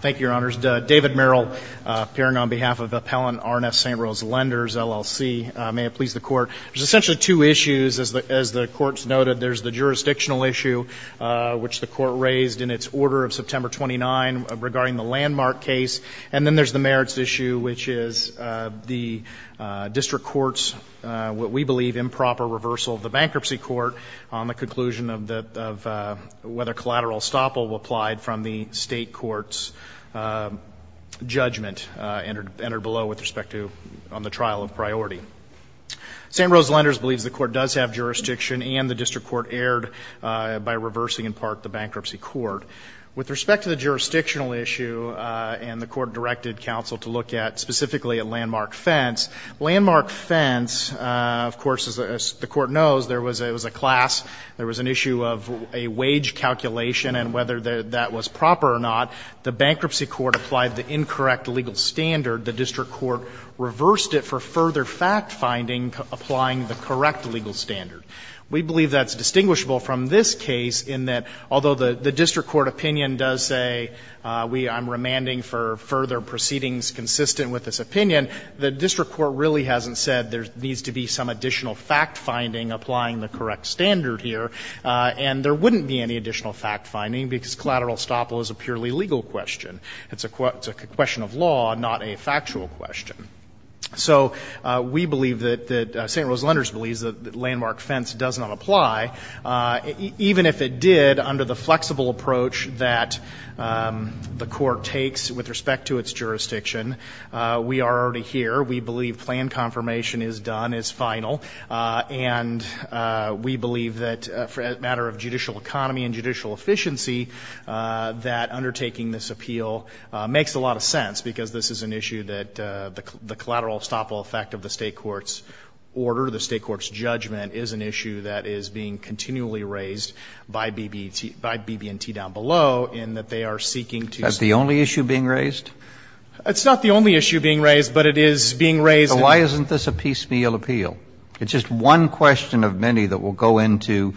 Thank you, Your Honors. David Merrill, appearing on behalf of Appellant R & S St. Rose Lenders, LLC. May it please the Court. There's essentially two issues, as the Court's noted. There's the jurisdictional issue, which the Court raised in its order of September 29, regarding the Landmark case. And then there's the merits issue, which is the District Court's, what we believe, improper reversal of the bankruptcy court on the conclusion of whether collateral estoppel applied from the State Court's judgment entered below with respect to, on the trial of priority. St. Rose Lenders believes the Court does have jurisdiction, and the District Court erred by reversing, in part, the bankruptcy court. With respect to the jurisdictional issue, and the Court directed counsel to look at, specifically, at Landmark Fence. Landmark Fence, of course, as the Court knows, there was a class, there was an issue of a wage calculation, and whether that was proper or not, the bankruptcy court applied the incorrect legal standard. The District Court reversed it for further fact-finding, applying the correct legal standard. We believe that's distinguishable from this case in that, although the District Court opinion does say, I'm remanding for further proceedings consistent with this case, the District Court really hasn't said there needs to be some additional fact-finding applying the correct standard here, and there wouldn't be any additional fact-finding because collateral estoppel is a purely legal question. It's a question of law, not a factual question. So we believe that St. Rose Lenders believes that Landmark Fence does not apply, even if it did under the flexible approach that the Court takes with respect to its jurisdiction. We are already here. We believe planned confirmation is done, is final. And we believe that, as a matter of judicial economy and judicial efficiency, that undertaking this appeal makes a lot of sense, because this is an issue that the collateral estoppel effect of the State court's order, the State court's judgment, is an issue that is being continually raised by BB&T down below, in that they are seeking to see. Roberts. Is that the only issue being raised? It's not the only issue being raised, but it is being raised. So why isn't this a piecemeal appeal? It's just one question of many that will go into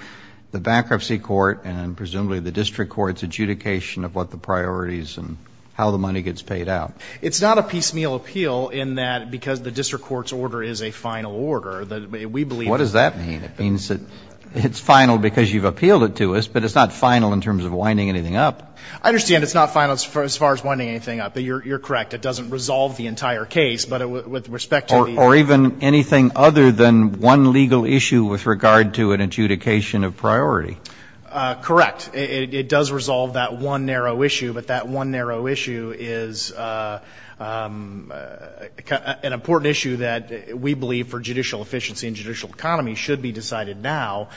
the bankruptcy court and presumably the District Court's adjudication of what the priorities and how the money gets paid out. It's not a piecemeal appeal in that because the District Court's order is a final order. We believe that. What does that mean? It means that it's final because you've appealed it to us, but it's not final in terms of winding anything up. I understand it's not final as far as winding anything up, but you're correct. It doesn't resolve the entire case. But with respect to the ---- Or even anything other than one legal issue with regard to an adjudication of priority. Correct. It does resolve that one narrow issue, but that one narrow issue is an important issue that we believe for judicial efficiency and judicial economy should be decided now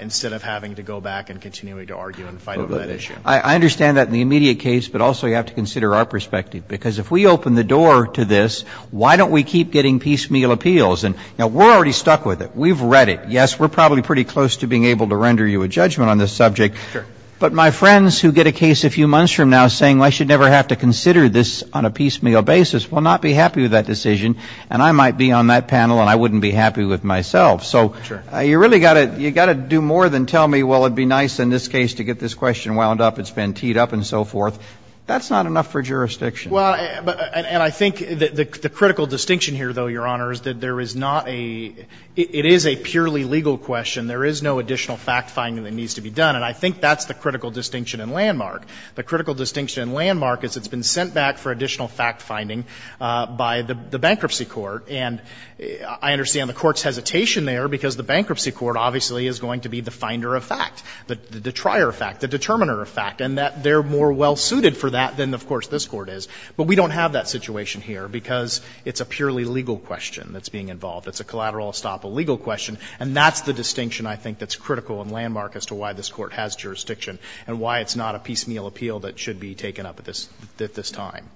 instead of having to go back and continuing to argue and fight over that issue. I understand that in the immediate case, but also you have to consider our perspective because if we open the door to this, why don't we keep getting piecemeal appeals? And, you know, we're already stuck with it. We've read it. Yes, we're probably pretty close to being able to render you a judgment on this subject. Sure. But my friends who get a case a few months from now saying I should never have to consider this on a piecemeal basis will not be happy with that decision, and I might be on that panel and I wouldn't be happy with myself. Sure. So you really got to do more than tell me, well, it would be nice in this case to get this question wound up. It's been teed up and so forth. That's not enough for jurisdiction. Well, and I think the critical distinction here, though, Your Honor, is that there is not a – it is a purely legal question. There is no additional fact-finding that needs to be done, and I think that's the critical distinction and landmark. The critical distinction and landmark is it's been sent back for additional fact-finding by the bankruptcy court, and I understand the court's hesitation there because the bankruptcy court obviously is going to be the finder of fact, the trier of fact, the determiner of fact, and that they're more well-suited for that than, of course, this Court is. But we don't have that situation here because it's a purely legal question that's being involved. It's a collateral estoppel legal question, and that's the distinction I think that's critical and landmark as to why this Court has jurisdiction and why it's not a piecemeal appeal that should be taken up at this time.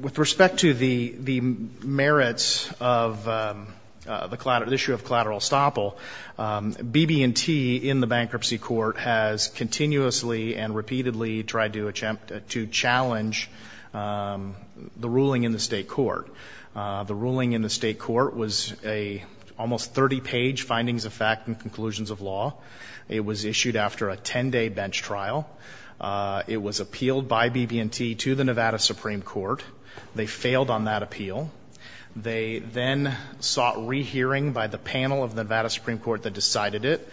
With respect to the merits of the issue of collateral estoppel, BB&T in the bankruptcy court has continuously and repeatedly tried to challenge the ruling in the State Court. The ruling in the State Court was an almost 30-page findings of fact and conclusions of law. It was issued after a 10-day bench trial. It was appealed by BB&T to the Nevada Supreme Court. They failed on that appeal. They then sought rehearing by the panel of the Nevada Supreme Court that decided it.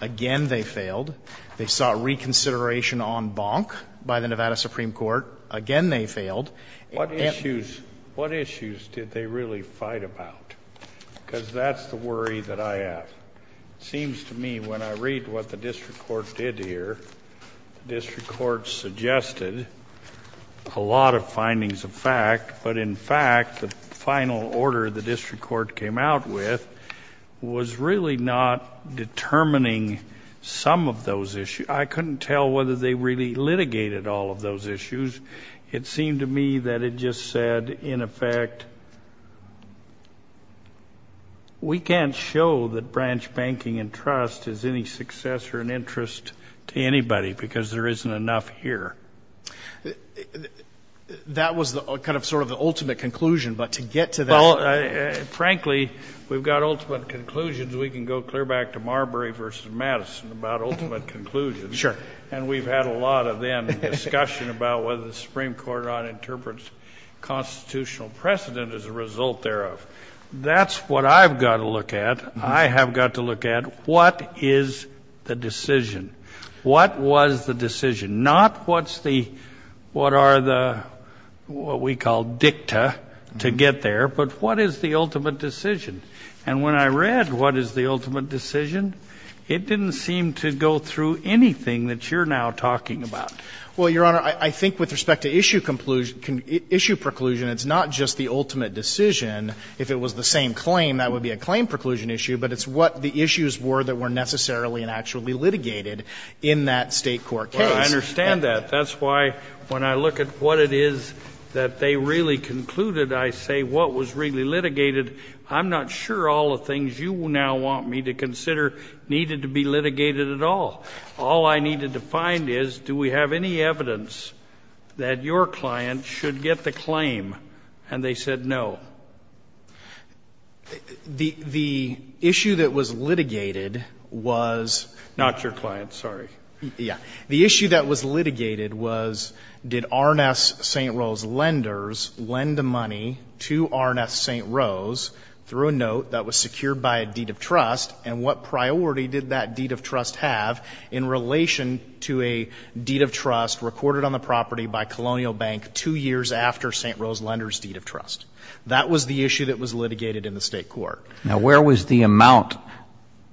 Again, they failed. They sought reconsideration en banc by the Nevada Supreme Court. Again, they failed. And they ---- Sotomayor, what issues did they really fight about? Because that's the worry that I have. It seems to me when I read what the district court did here, the district court suggested a lot of findings of fact. But in fact, the final order the district court came out with was really not determining some of those issues. I couldn't tell whether they really litigated all of those issues. It seemed to me that it just said, in effect, we can't show that branching out branch banking and trust is any success or an interest to anybody because there isn't enough here. That was the kind of sort of the ultimate conclusion. But to get to that ---- Well, frankly, we've got ultimate conclusions. We can go clear back to Marbury v. Madison about ultimate conclusions. Sure. And we've had a lot of then discussion about whether the Supreme Court or not interprets constitutional precedent as a result thereof. That's what I've got to look at. I have got to look at what is the decision? What was the decision? Not what's the ---- what are the what we call dicta to get there, but what is the ultimate decision? And when I read what is the ultimate decision, it didn't seem to go through anything that you're now talking about. Well, Your Honor, I think with respect to issue conclusion ---- issue preclusion, it's not just the ultimate decision. If it was the same claim, that would be a claim preclusion issue, but it's what the issues were that were necessarily and actually litigated in that State court case. Well, I understand that. That's why when I look at what it is that they really concluded, I say what was really litigated. I'm not sure all the things you now want me to consider needed to be litigated at all. All I needed to find is do we have any evidence that your client should get the claim? And they said no. The issue that was litigated was ---- Not your client. Sorry. Yeah. The issue that was litigated was did R&S St. Rose Lenders lend money to R&S St. Rose through a note that was secured by a deed of trust, and what priority did that deed of trust have in relation to a deed of trust recorded on the property by Colonial Bank two years after St. Rose Lenders' deed of trust? That was the issue that was litigated in the State court. Now, where was the amount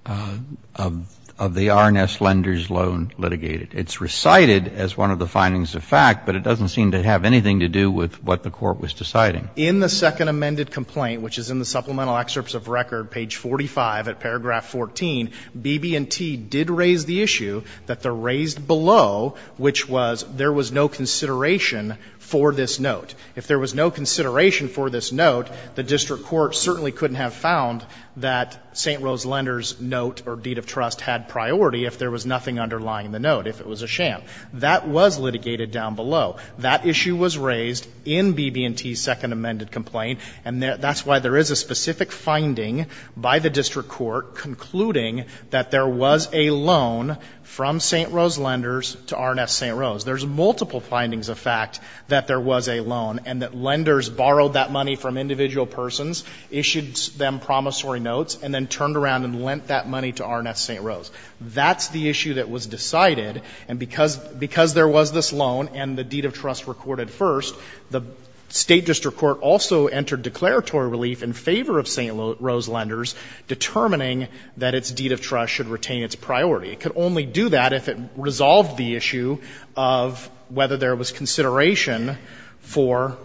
of the R&S Lenders loan litigated? It's recited as one of the findings of fact, but it doesn't seem to have anything to do with what the court was deciding. In the second amended complaint, which is in the supplemental excerpts of record, page 45 at paragraph 14, BB&T did raise the issue that the raised below, which was there was no consideration for this note. If there was no consideration for this note, the district court certainly couldn't have found that St. Rose Lenders' note or deed of trust had priority if there was nothing underlying the note, if it was a sham. That was litigated down below. That issue was raised in BB&T's second amended complaint. And that's why there is a specific finding by the district court concluding that there was a loan from St. Rose Lenders to R&S St. Rose. There's multiple findings of fact that there was a loan and that lenders borrowed that money from individual persons, issued them promissory notes, and then turned around and lent that money to R&S St. Rose. That's the issue that was decided. And because there was this loan and the deed of trust recorded first, the State district court also entered declaratory relief in favor of St. Rose Lenders, determining that its deed of trust should retain its priority. It could only do that if it resolved the issue of whether there was consideration for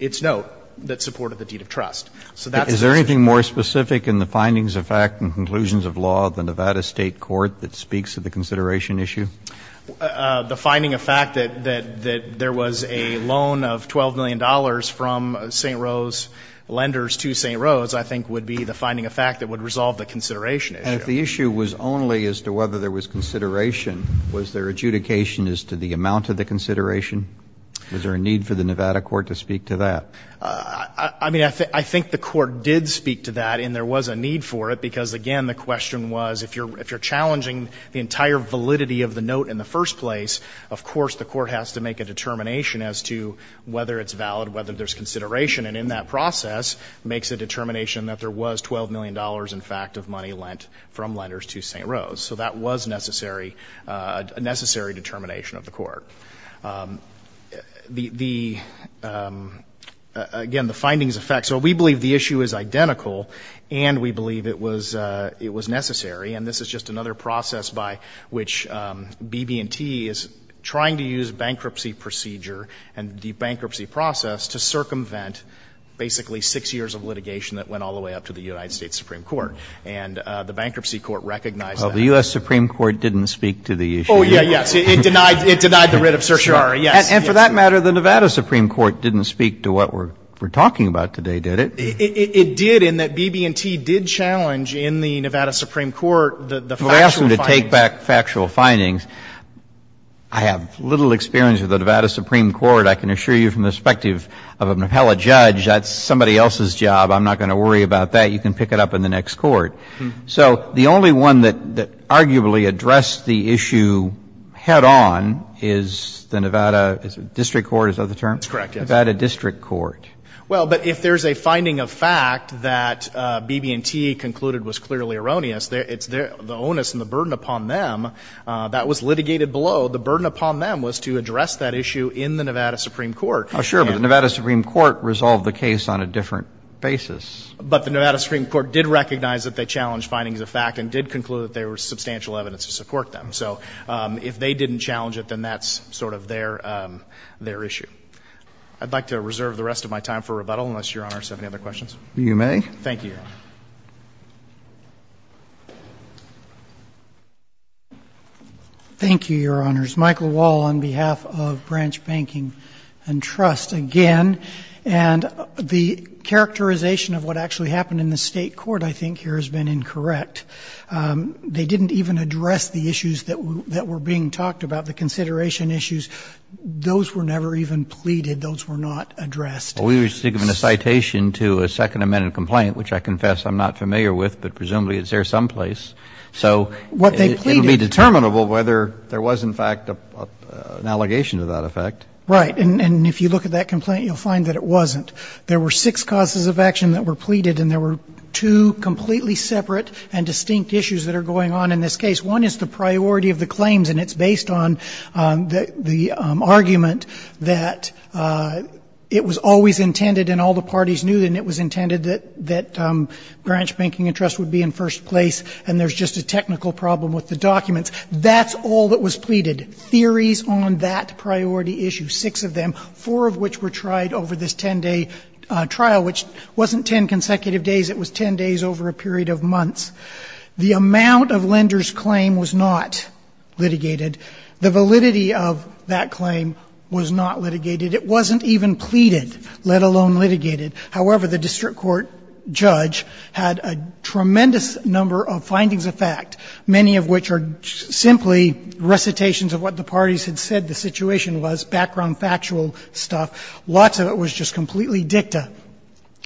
its note that supported the deed of trust. So that's the specific point. Kennedy. Is there anything more specific in the findings of fact and conclusions of law of the Nevada State court that speaks to the consideration issue? The finding of fact that there was a loan of $12 million from St. Rose Lenders to St. Rose I think would be the finding of fact that would resolve the consideration issue. And if the issue was only as to whether there was consideration, was there adjudication as to the amount of the consideration? Is there a need for the Nevada court to speak to that? I mean, I think the court did speak to that, and there was a need for it, because, again, the question was, if you're challenging the entire validity of the note in the first place, of course the court has to make a determination as to whether it's valid, whether there's consideration, and in that process makes a determination that there was $12 million, in fact, of money lent from Lenders to St. Rose. So that was necessary, a necessary determination of the court. The, again, the findings of fact. So we believe the issue is identical, and we believe it was necessary. And this is just another process by which BB&T is trying to use bankruptcy procedure and the bankruptcy process to circumvent basically 6 years of litigation that went all the way up to the United States Supreme Court. And the bankruptcy court recognized that. Kennedy. Well, the U.S. Supreme Court didn't speak to the issue. Fisher. Oh, yeah, yes. It denied the writ of certiorari, yes. Kennedy. And for that matter, the Nevada Supreme Court didn't speak to what we're talking about today, did it? Fisher. It did, in that BB&T did challenge in the Nevada Supreme Court the factual findings. Kennedy. You're asking me to take back factual findings. I have little experience with the Nevada Supreme Court. I can assure you from the perspective of an appellate judge, that's somebody else's job. I'm not going to worry about that. You can pick it up in the next court. So the only one that arguably addressed the issue head on is the Nevada District Court, is that the term? Fisher. That's correct, yes. Kennedy. Nevada District Court. Fisher. Well, but if there's a finding of fact that BB&T concluded was clearly erroneous, the onus and the burden upon them, that was litigated below. The burden upon them was to address that issue in the Nevada Supreme Court. Well, sure, but the Nevada Supreme Court resolved the case on a different basis. But the Nevada Supreme Court did recognize that they challenged findings of fact and did conclude that there was substantial evidence to support them. So if they didn't challenge it, then that's sort of their issue. I'd like to reserve the rest of my time for rebuttal, unless Your Honor has any other questions. You may. Thank you, Your Honor. Thank you, Your Honors. I'm going to use Michael Wall on behalf of Branch Banking and Trust again. And the characterization of what actually happened in the State court, I think, here has been incorrect. They didn't even address the issues that were being talked about, the consideration issues. Those were never even pleaded. Those were not addressed. Well, we were given a citation to a Second Amendment complaint, which I confess I'm not familiar with, but presumably it's there someplace. Right. And if you look at that complaint, you'll find that it wasn't. There were six causes of action that were pleaded, and there were two completely separate and distinct issues that are going on in this case. One is the priority of the claims, and it's based on the argument that it was always intended, and all the parties knew, and it was intended that Branch Banking and Trust would be in first place, and there's just a technical problem with the documents. That's all that was pleaded, theories on that priority issue, six of them, four of which were tried over this ten-day trial, which wasn't ten consecutive days. It was ten days over a period of months. The amount of lender's claim was not litigated. The validity of that claim was not litigated. It wasn't even pleaded, let alone litigated. However, the district court judge had a tremendous number of findings of fact, many of which are simply recitations of what the parties had said the situation was, background factual stuff. Lots of it was just completely dicta.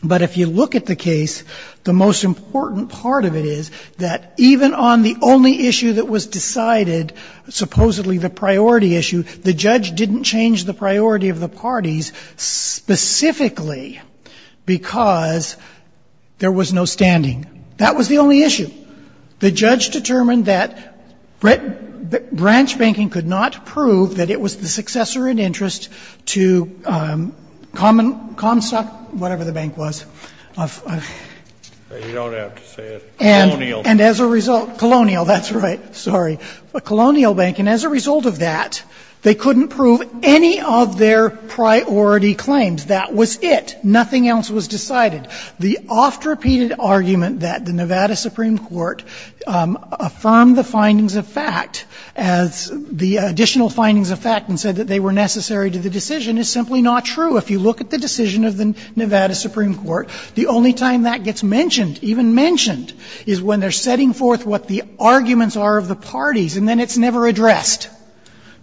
But if you look at the case, the most important part of it is that even on the only issue that was decided, supposedly the priority issue, the judge didn't change the priority of the parties specifically because there was no standing. That was the only issue. The judge determined that branch banking could not prove that it was the successor in interest to Comstock, whatever the bank was. And as a result, Colonial, that's right, sorry, Colonial Bank. And as a result of that, they couldn't prove any of their priority claims. That was it. Nothing else was decided. The oft-repeated argument that the Nevada Supreme Court affirmed the findings of fact as the additional findings of fact and said that they were necessary to the decision is simply not true. If you look at the decision of the Nevada Supreme Court, the only time that gets mentioned, even mentioned, is when they're setting forth what the arguments are of the parties, and then it's never addressed.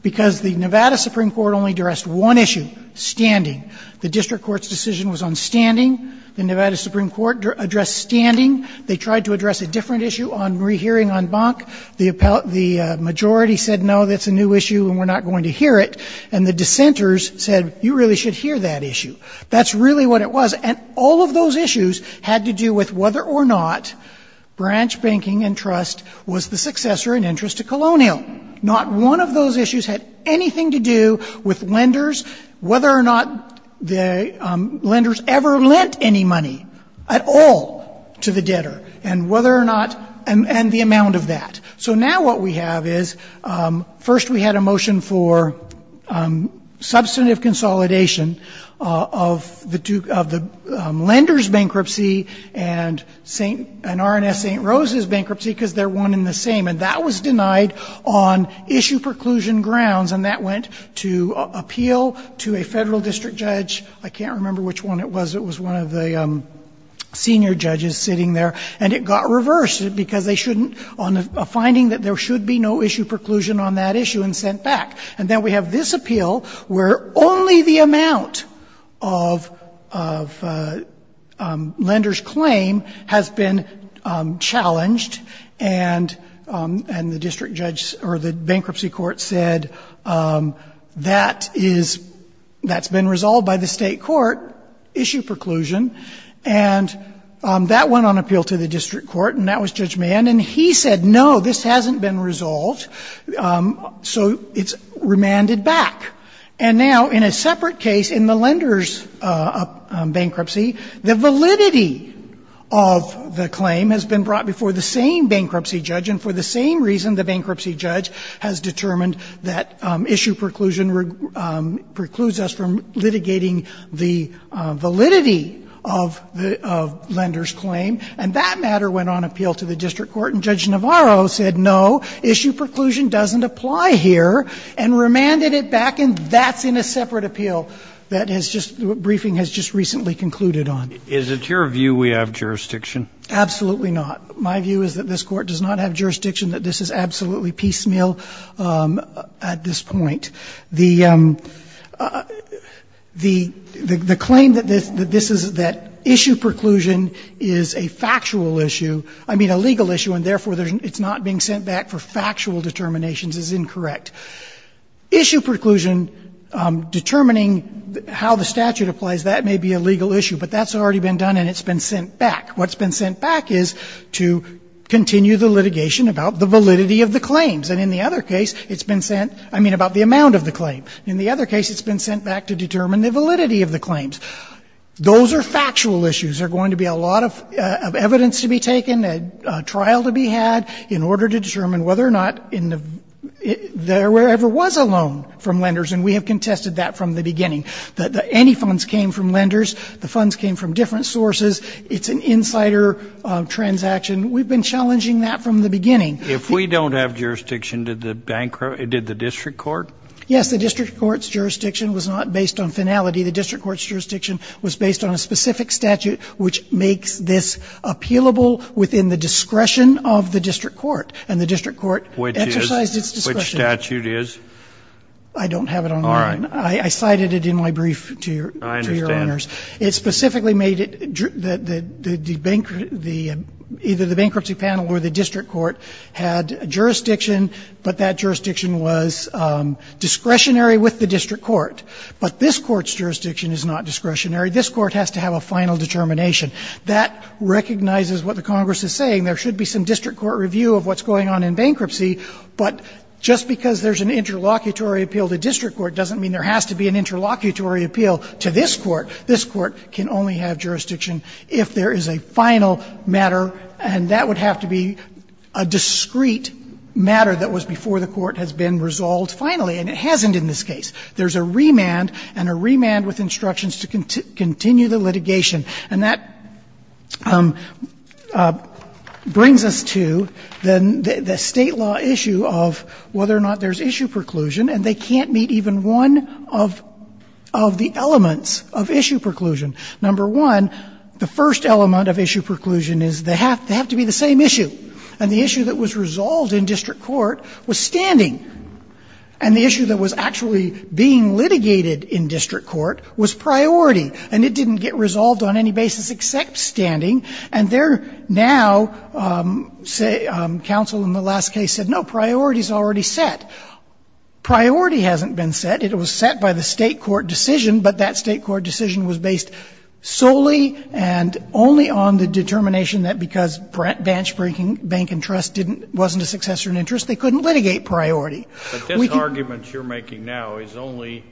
Because the Nevada Supreme Court only addressed one issue, standing. The district court's decision was on standing. The Nevada Supreme Court addressed standing. They tried to address a different issue on rehearing on Bonk. The majority said, no, that's a new issue and we're not going to hear it. And the dissenters said, you really should hear that issue. That's really what it was. And all of those issues had to do with whether or not branch banking and trust was the successor in interest to Colonial. Not one of those issues had anything to do with lenders, whether or not the lenders ever lent any money at all to the debtor, and whether or not, and the amount of that. So now what we have is, first we had a motion for substantive consolidation of the two of the lenders' bankruptcy and St. and R&S St. Rose's bankruptcy because they're one and the same. And that was denied on issue preclusion grounds. And that went to appeal to a federal district judge. I can't remember which one it was. It was one of the senior judges sitting there. And it got reversed because they shouldn't on a finding that there should be no issue preclusion on that issue and sent back. And then we have this appeal where only the amount of lenders' claim has been challenged and the district judge or the bankruptcy court said that is, that's been resolved by the State court, issue preclusion. And that went on appeal to the district court, and that was Judge Mann. And he said, no, this hasn't been resolved, so it's remanded back. And now in a separate case, in the lenders' bankruptcy, the validity of the claim has been brought before the same bankruptcy judge. And for the same reason, the bankruptcy judge has determined that issue preclusion precludes us from litigating the validity of the lenders' claim. And that matter went on appeal to the district court. And Judge Navarro said, no, issue preclusion doesn't apply here, and remanded it back. And that's in a separate appeal that has just been briefed and has just recently concluded on. Is it your view we have jurisdiction? Absolutely not. My view is that this Court does not have jurisdiction, that this is absolutely piecemeal at this point. The claim that this is, that issue preclusion is a factual issue, I mean a legal issue, and therefore it's not being sent back for factual determinations is incorrect. Issue preclusion determining how the statute applies, that may be a legal issue, but that's already been done and it's been sent back. What's been sent back is to continue the litigation about the validity of the claims. And in the other case, it's been sent, I mean about the amount of the claim. In the other case, it's been sent back to determine the validity of the claims. Those are factual issues. There are going to be a lot of evidence to be taken, a trial to be had in order to determine whether or not there ever was a loan from lenders, and we have contested that from the beginning. Any funds came from lenders. The funds came from different sources. It's an insider transaction. We've been challenging that from the beginning. If we don't have jurisdiction, did the district court? Yes. The district court's jurisdiction was not based on finality. The district court's jurisdiction was based on a specific statute which makes this appealable within the discretion of the district court, and the district court exercised its discretion. Which statute is? I don't have it online. All right. I cited it in my brief to your owners. I understand. It specifically made it the bankruptcy panel or the district court had jurisdiction, but that jurisdiction was discretionary with the district court. But this court's jurisdiction is not discretionary. This court has to have a final determination. That recognizes what the Congress is saying. There should be some district court review of what's going on in bankruptcy, but just because there's an interlocutory appeal to district court doesn't mean there has to be an interlocutory appeal to this court. This court can only have jurisdiction if there is a final matter, and that would have to be a discrete matter that was before the court has been resolved finally, and it hasn't in this case. There's a remand and a remand with instructions to continue the litigation. And that brings us to the State law issue of whether or not there's issue preclusion, and they can't meet even one of the elements of issue preclusion. Number one, the first element of issue preclusion is they have to be the same issue. And the issue that was resolved in district court was standing, and the issue that was actually being litigated in district court was priority, and it didn't get resolved on any basis except standing. And there now, say, counsel in the last case said, no, priority is already set. Priority hasn't been set. It was set by the State court decision, but that State court decision was based solely and only on the determination that because branch breaking, bank and trust wasn't a successor in interest, they couldn't litigate priority. We can't. Kennedy. But this argument you're making now is only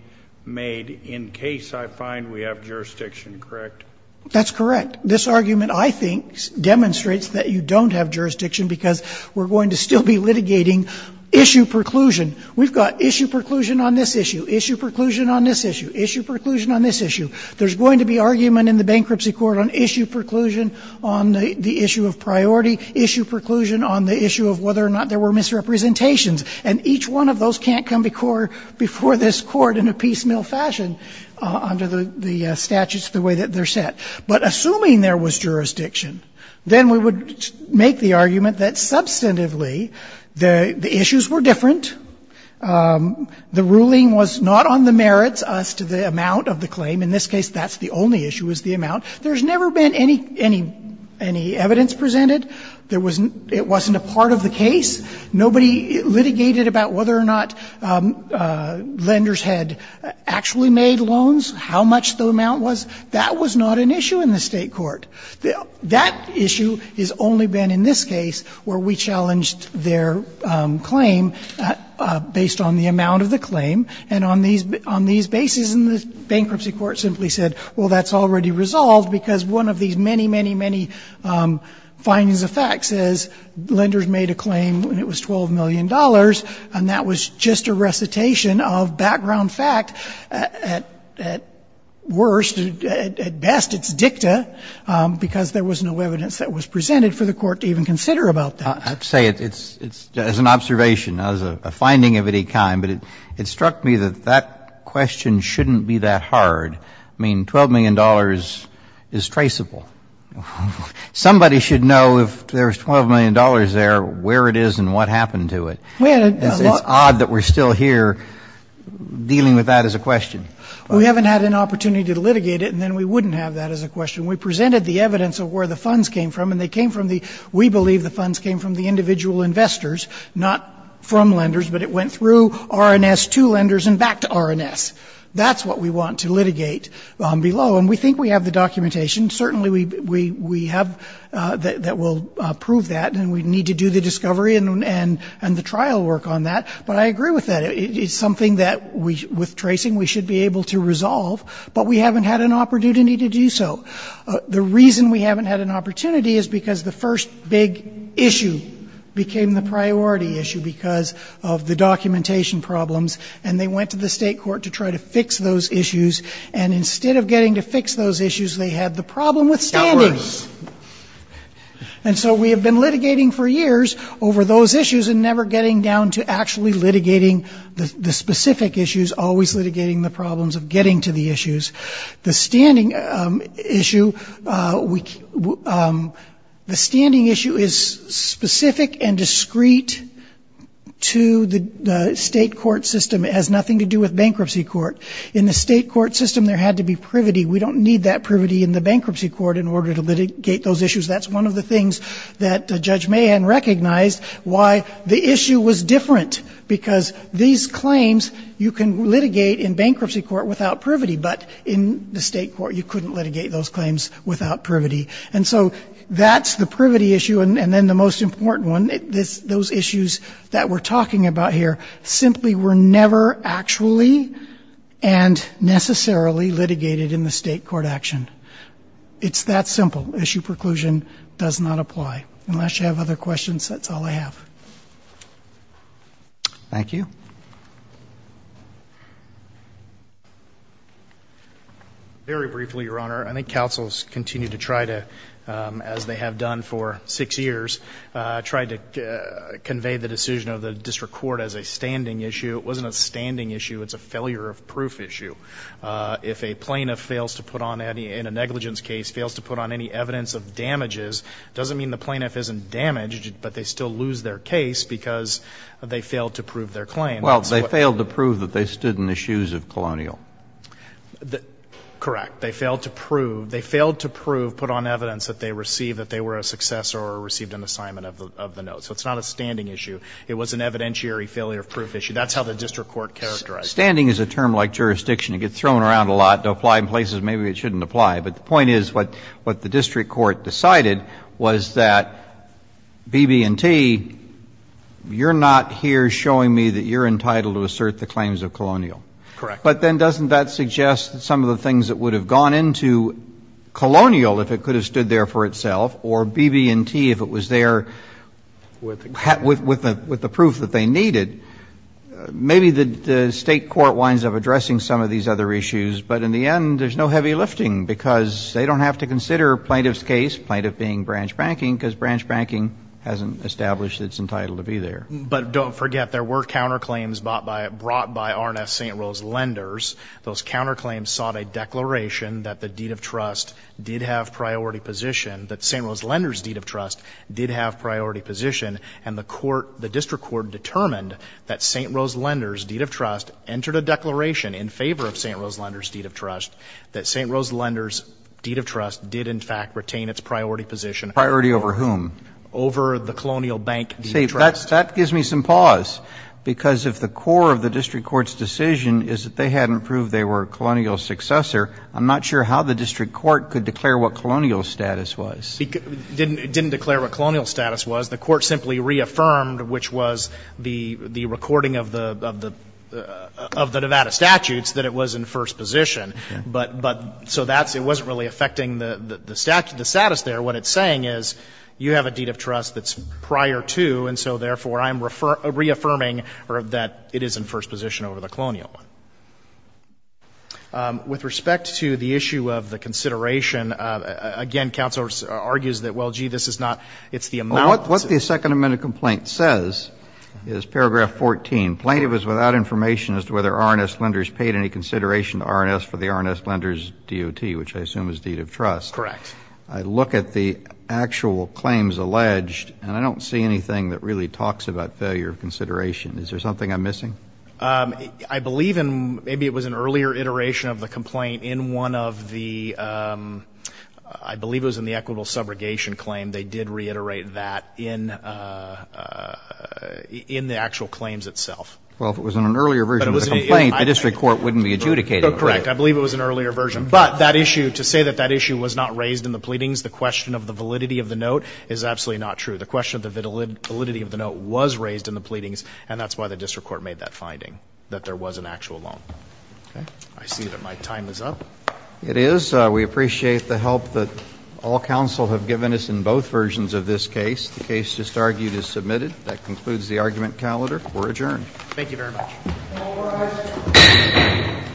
made in case I find we have jurisdiction, correct? That's correct. This argument, I think, demonstrates that you don't have jurisdiction because we're going to still be litigating issue preclusion. We've got issue preclusion on this issue, issue preclusion on this issue, issue preclusion on this issue. There's going to be argument in the bankruptcy court on issue preclusion on the issue of priority, issue preclusion on the issue of whether or not there were misrepresentations. And each one of those can't come before this Court in a piecemeal fashion under the statutes the way that they're set. But assuming there was jurisdiction, then we would make the argument that substantively the issues were different. The ruling was not on the merits as to the amount of the claim. In this case, that's the only issue, is the amount. There's never been any evidence presented. It wasn't a part of the case. Nobody litigated about whether or not lenders had actually made loans, how much the amount was. That was not an issue in the State court. That issue has only been in this case where we challenged their claim based on the amount of the claim. And on these bases, the bankruptcy court simply said, well, that's already resolved because one of these many, many, many findings of facts is lenders made a claim when it was $12 million, and that was just a recitation of background fact at worst and at best it's dicta because there was no evidence that was presented for the court to even consider about that. I have to say, as an observation, not as a finding of any kind, but it struck me that that question shouldn't be that hard. I mean, $12 million is traceable. Somebody should know if there's $12 million there where it is and what happened to it. It's odd that we're still here dealing with that as a question. We haven't had an opportunity to litigate it, and then we wouldn't have that as a question. We presented the evidence of where the funds came from, and they came from the we believe the funds came from the individual investors, not from lenders, but it went through R&S to lenders and back to R&S. That's what we want to litigate below. And we think we have the documentation. Certainly we have that will prove that, and we need to do the discovery and the trial work on that. But I agree with that. It's something that with tracing we should be able to resolve, but we haven't had an opportunity to do so. The reason we haven't had an opportunity is because the first big issue became the priority issue because of the documentation problems, and they went to the State Court to try to fix those issues. And instead of getting to fix those issues, they had the problem with standing. And so we have been litigating for years over those issues and never getting down to actually litigating the specific issues, always litigating the problems of getting to the issues. The standing issue is specific and discreet to the State Court system. It has nothing to do with bankruptcy court. In the State Court system, there had to be privity. We don't need that privity in the bankruptcy court in order to litigate those issues. That's one of the things that Judge Mahan recognized, why the issue was different, because these claims you can litigate in bankruptcy court without privity, but in the State Court you couldn't litigate those claims without privity. And so that's the privity issue. And then the most important one, those issues that we're talking about here simply were never actually and necessarily litigated in the State Court action. It's that simple. Issue preclusion does not apply. Unless you have other questions, that's all I have. Thank you. Very briefly, Your Honor, I think counsels continue to try to, as they have done for six years, try to convey the decision of the district court as a standing issue. It wasn't a standing issue. It's a failure of proof issue. If a plaintiff fails to put on any, in a negligence case, fails to put on any evidence of damages, it doesn't mean the plaintiff isn't damaged, but they still lose their case because they failed to prove their claim. Well, they failed to prove that they stood in the shoes of Colonial. Correct. They failed to prove. They failed to prove, put on evidence, that they received, that they were a successor or received an assignment of the note. So it's not a standing issue. It was an evidentiary failure of proof issue. That's how the district court characterized it. Standing is a term like jurisdiction. It gets thrown around a lot to apply in places maybe it shouldn't apply. But the point is what the district court decided was that BB&T, you're not here showing me that you're entitled to assert the claims of Colonial. Correct. But then doesn't that suggest that some of the things that would have gone into Colonial if it could have stood there for itself or BB&T if it was there with the proof that they needed, maybe the State court winds up addressing some of these other issues. But in the end, there's no heavy lifting because they don't have to consider plaintiff's case, plaintiff being branch banking, because branch banking hasn't established it's entitled to be there. But don't forget there were counterclaims brought by R&S St. Rose Lenders. Those counterclaims sought a declaration that the deed of trust did have priority position, that St. Rose Lenders' deed of trust did have priority position. And the court, the district court determined that St. Rose Lenders' deed of trust entered a declaration in favor of St. Rose Lenders' deed of trust that St. Rose Lenders' deed of trust did in fact retain its priority position. Priority over whom? Over the Colonial Bank deed of trust. See, that gives me some pause. Because if the core of the district court's decision is that they hadn't proved they were a Colonial successor, I'm not sure how the district court could declare what Colonial status was. It didn't declare what Colonial status was. The court simply reaffirmed, which was the recording of the Nevada statutes, that it was in first position. But so that's, it wasn't really affecting the status there. What it's saying is you have a deed of trust that's prior to, and so therefore I'm reaffirming that it is in first position over the Colonial one. With respect to the issue of the consideration, again, counsel argues that, well, gee, this is not, it's the amount. What the Second Amendment complaint says is paragraph 14. Plaintiff is without information as to whether R&S lenders paid any consideration to R&S for the R&S lenders' DOT, which I assume is deed of trust. Correct. I look at the actual claims alleged, and I don't see anything that really talks about failure of consideration. Is there something I'm missing? I believe in, maybe it was an earlier iteration of the complaint in one of the, I believe it was in the equitable subrogation claim. They did reiterate that in the actual claims itself. Well, if it was in an earlier version of the complaint, the district court wouldn't be adjudicating it. Correct. I believe it was an earlier version. But that issue, to say that that issue was not raised in the pleadings, the question of the validity of the note is absolutely not true. The question of the validity of the note was raised in the pleadings, and that's why the district court made that finding, that there was an actual loan. Okay. I see that my time is up. It is. We appreciate the help that all counsel have given us in both versions of this case. The case just argued is submitted. That concludes the argument calendar. We're adjourned. Thank you very much. All rise. All rise. Court is adjourned. Court is adjourned.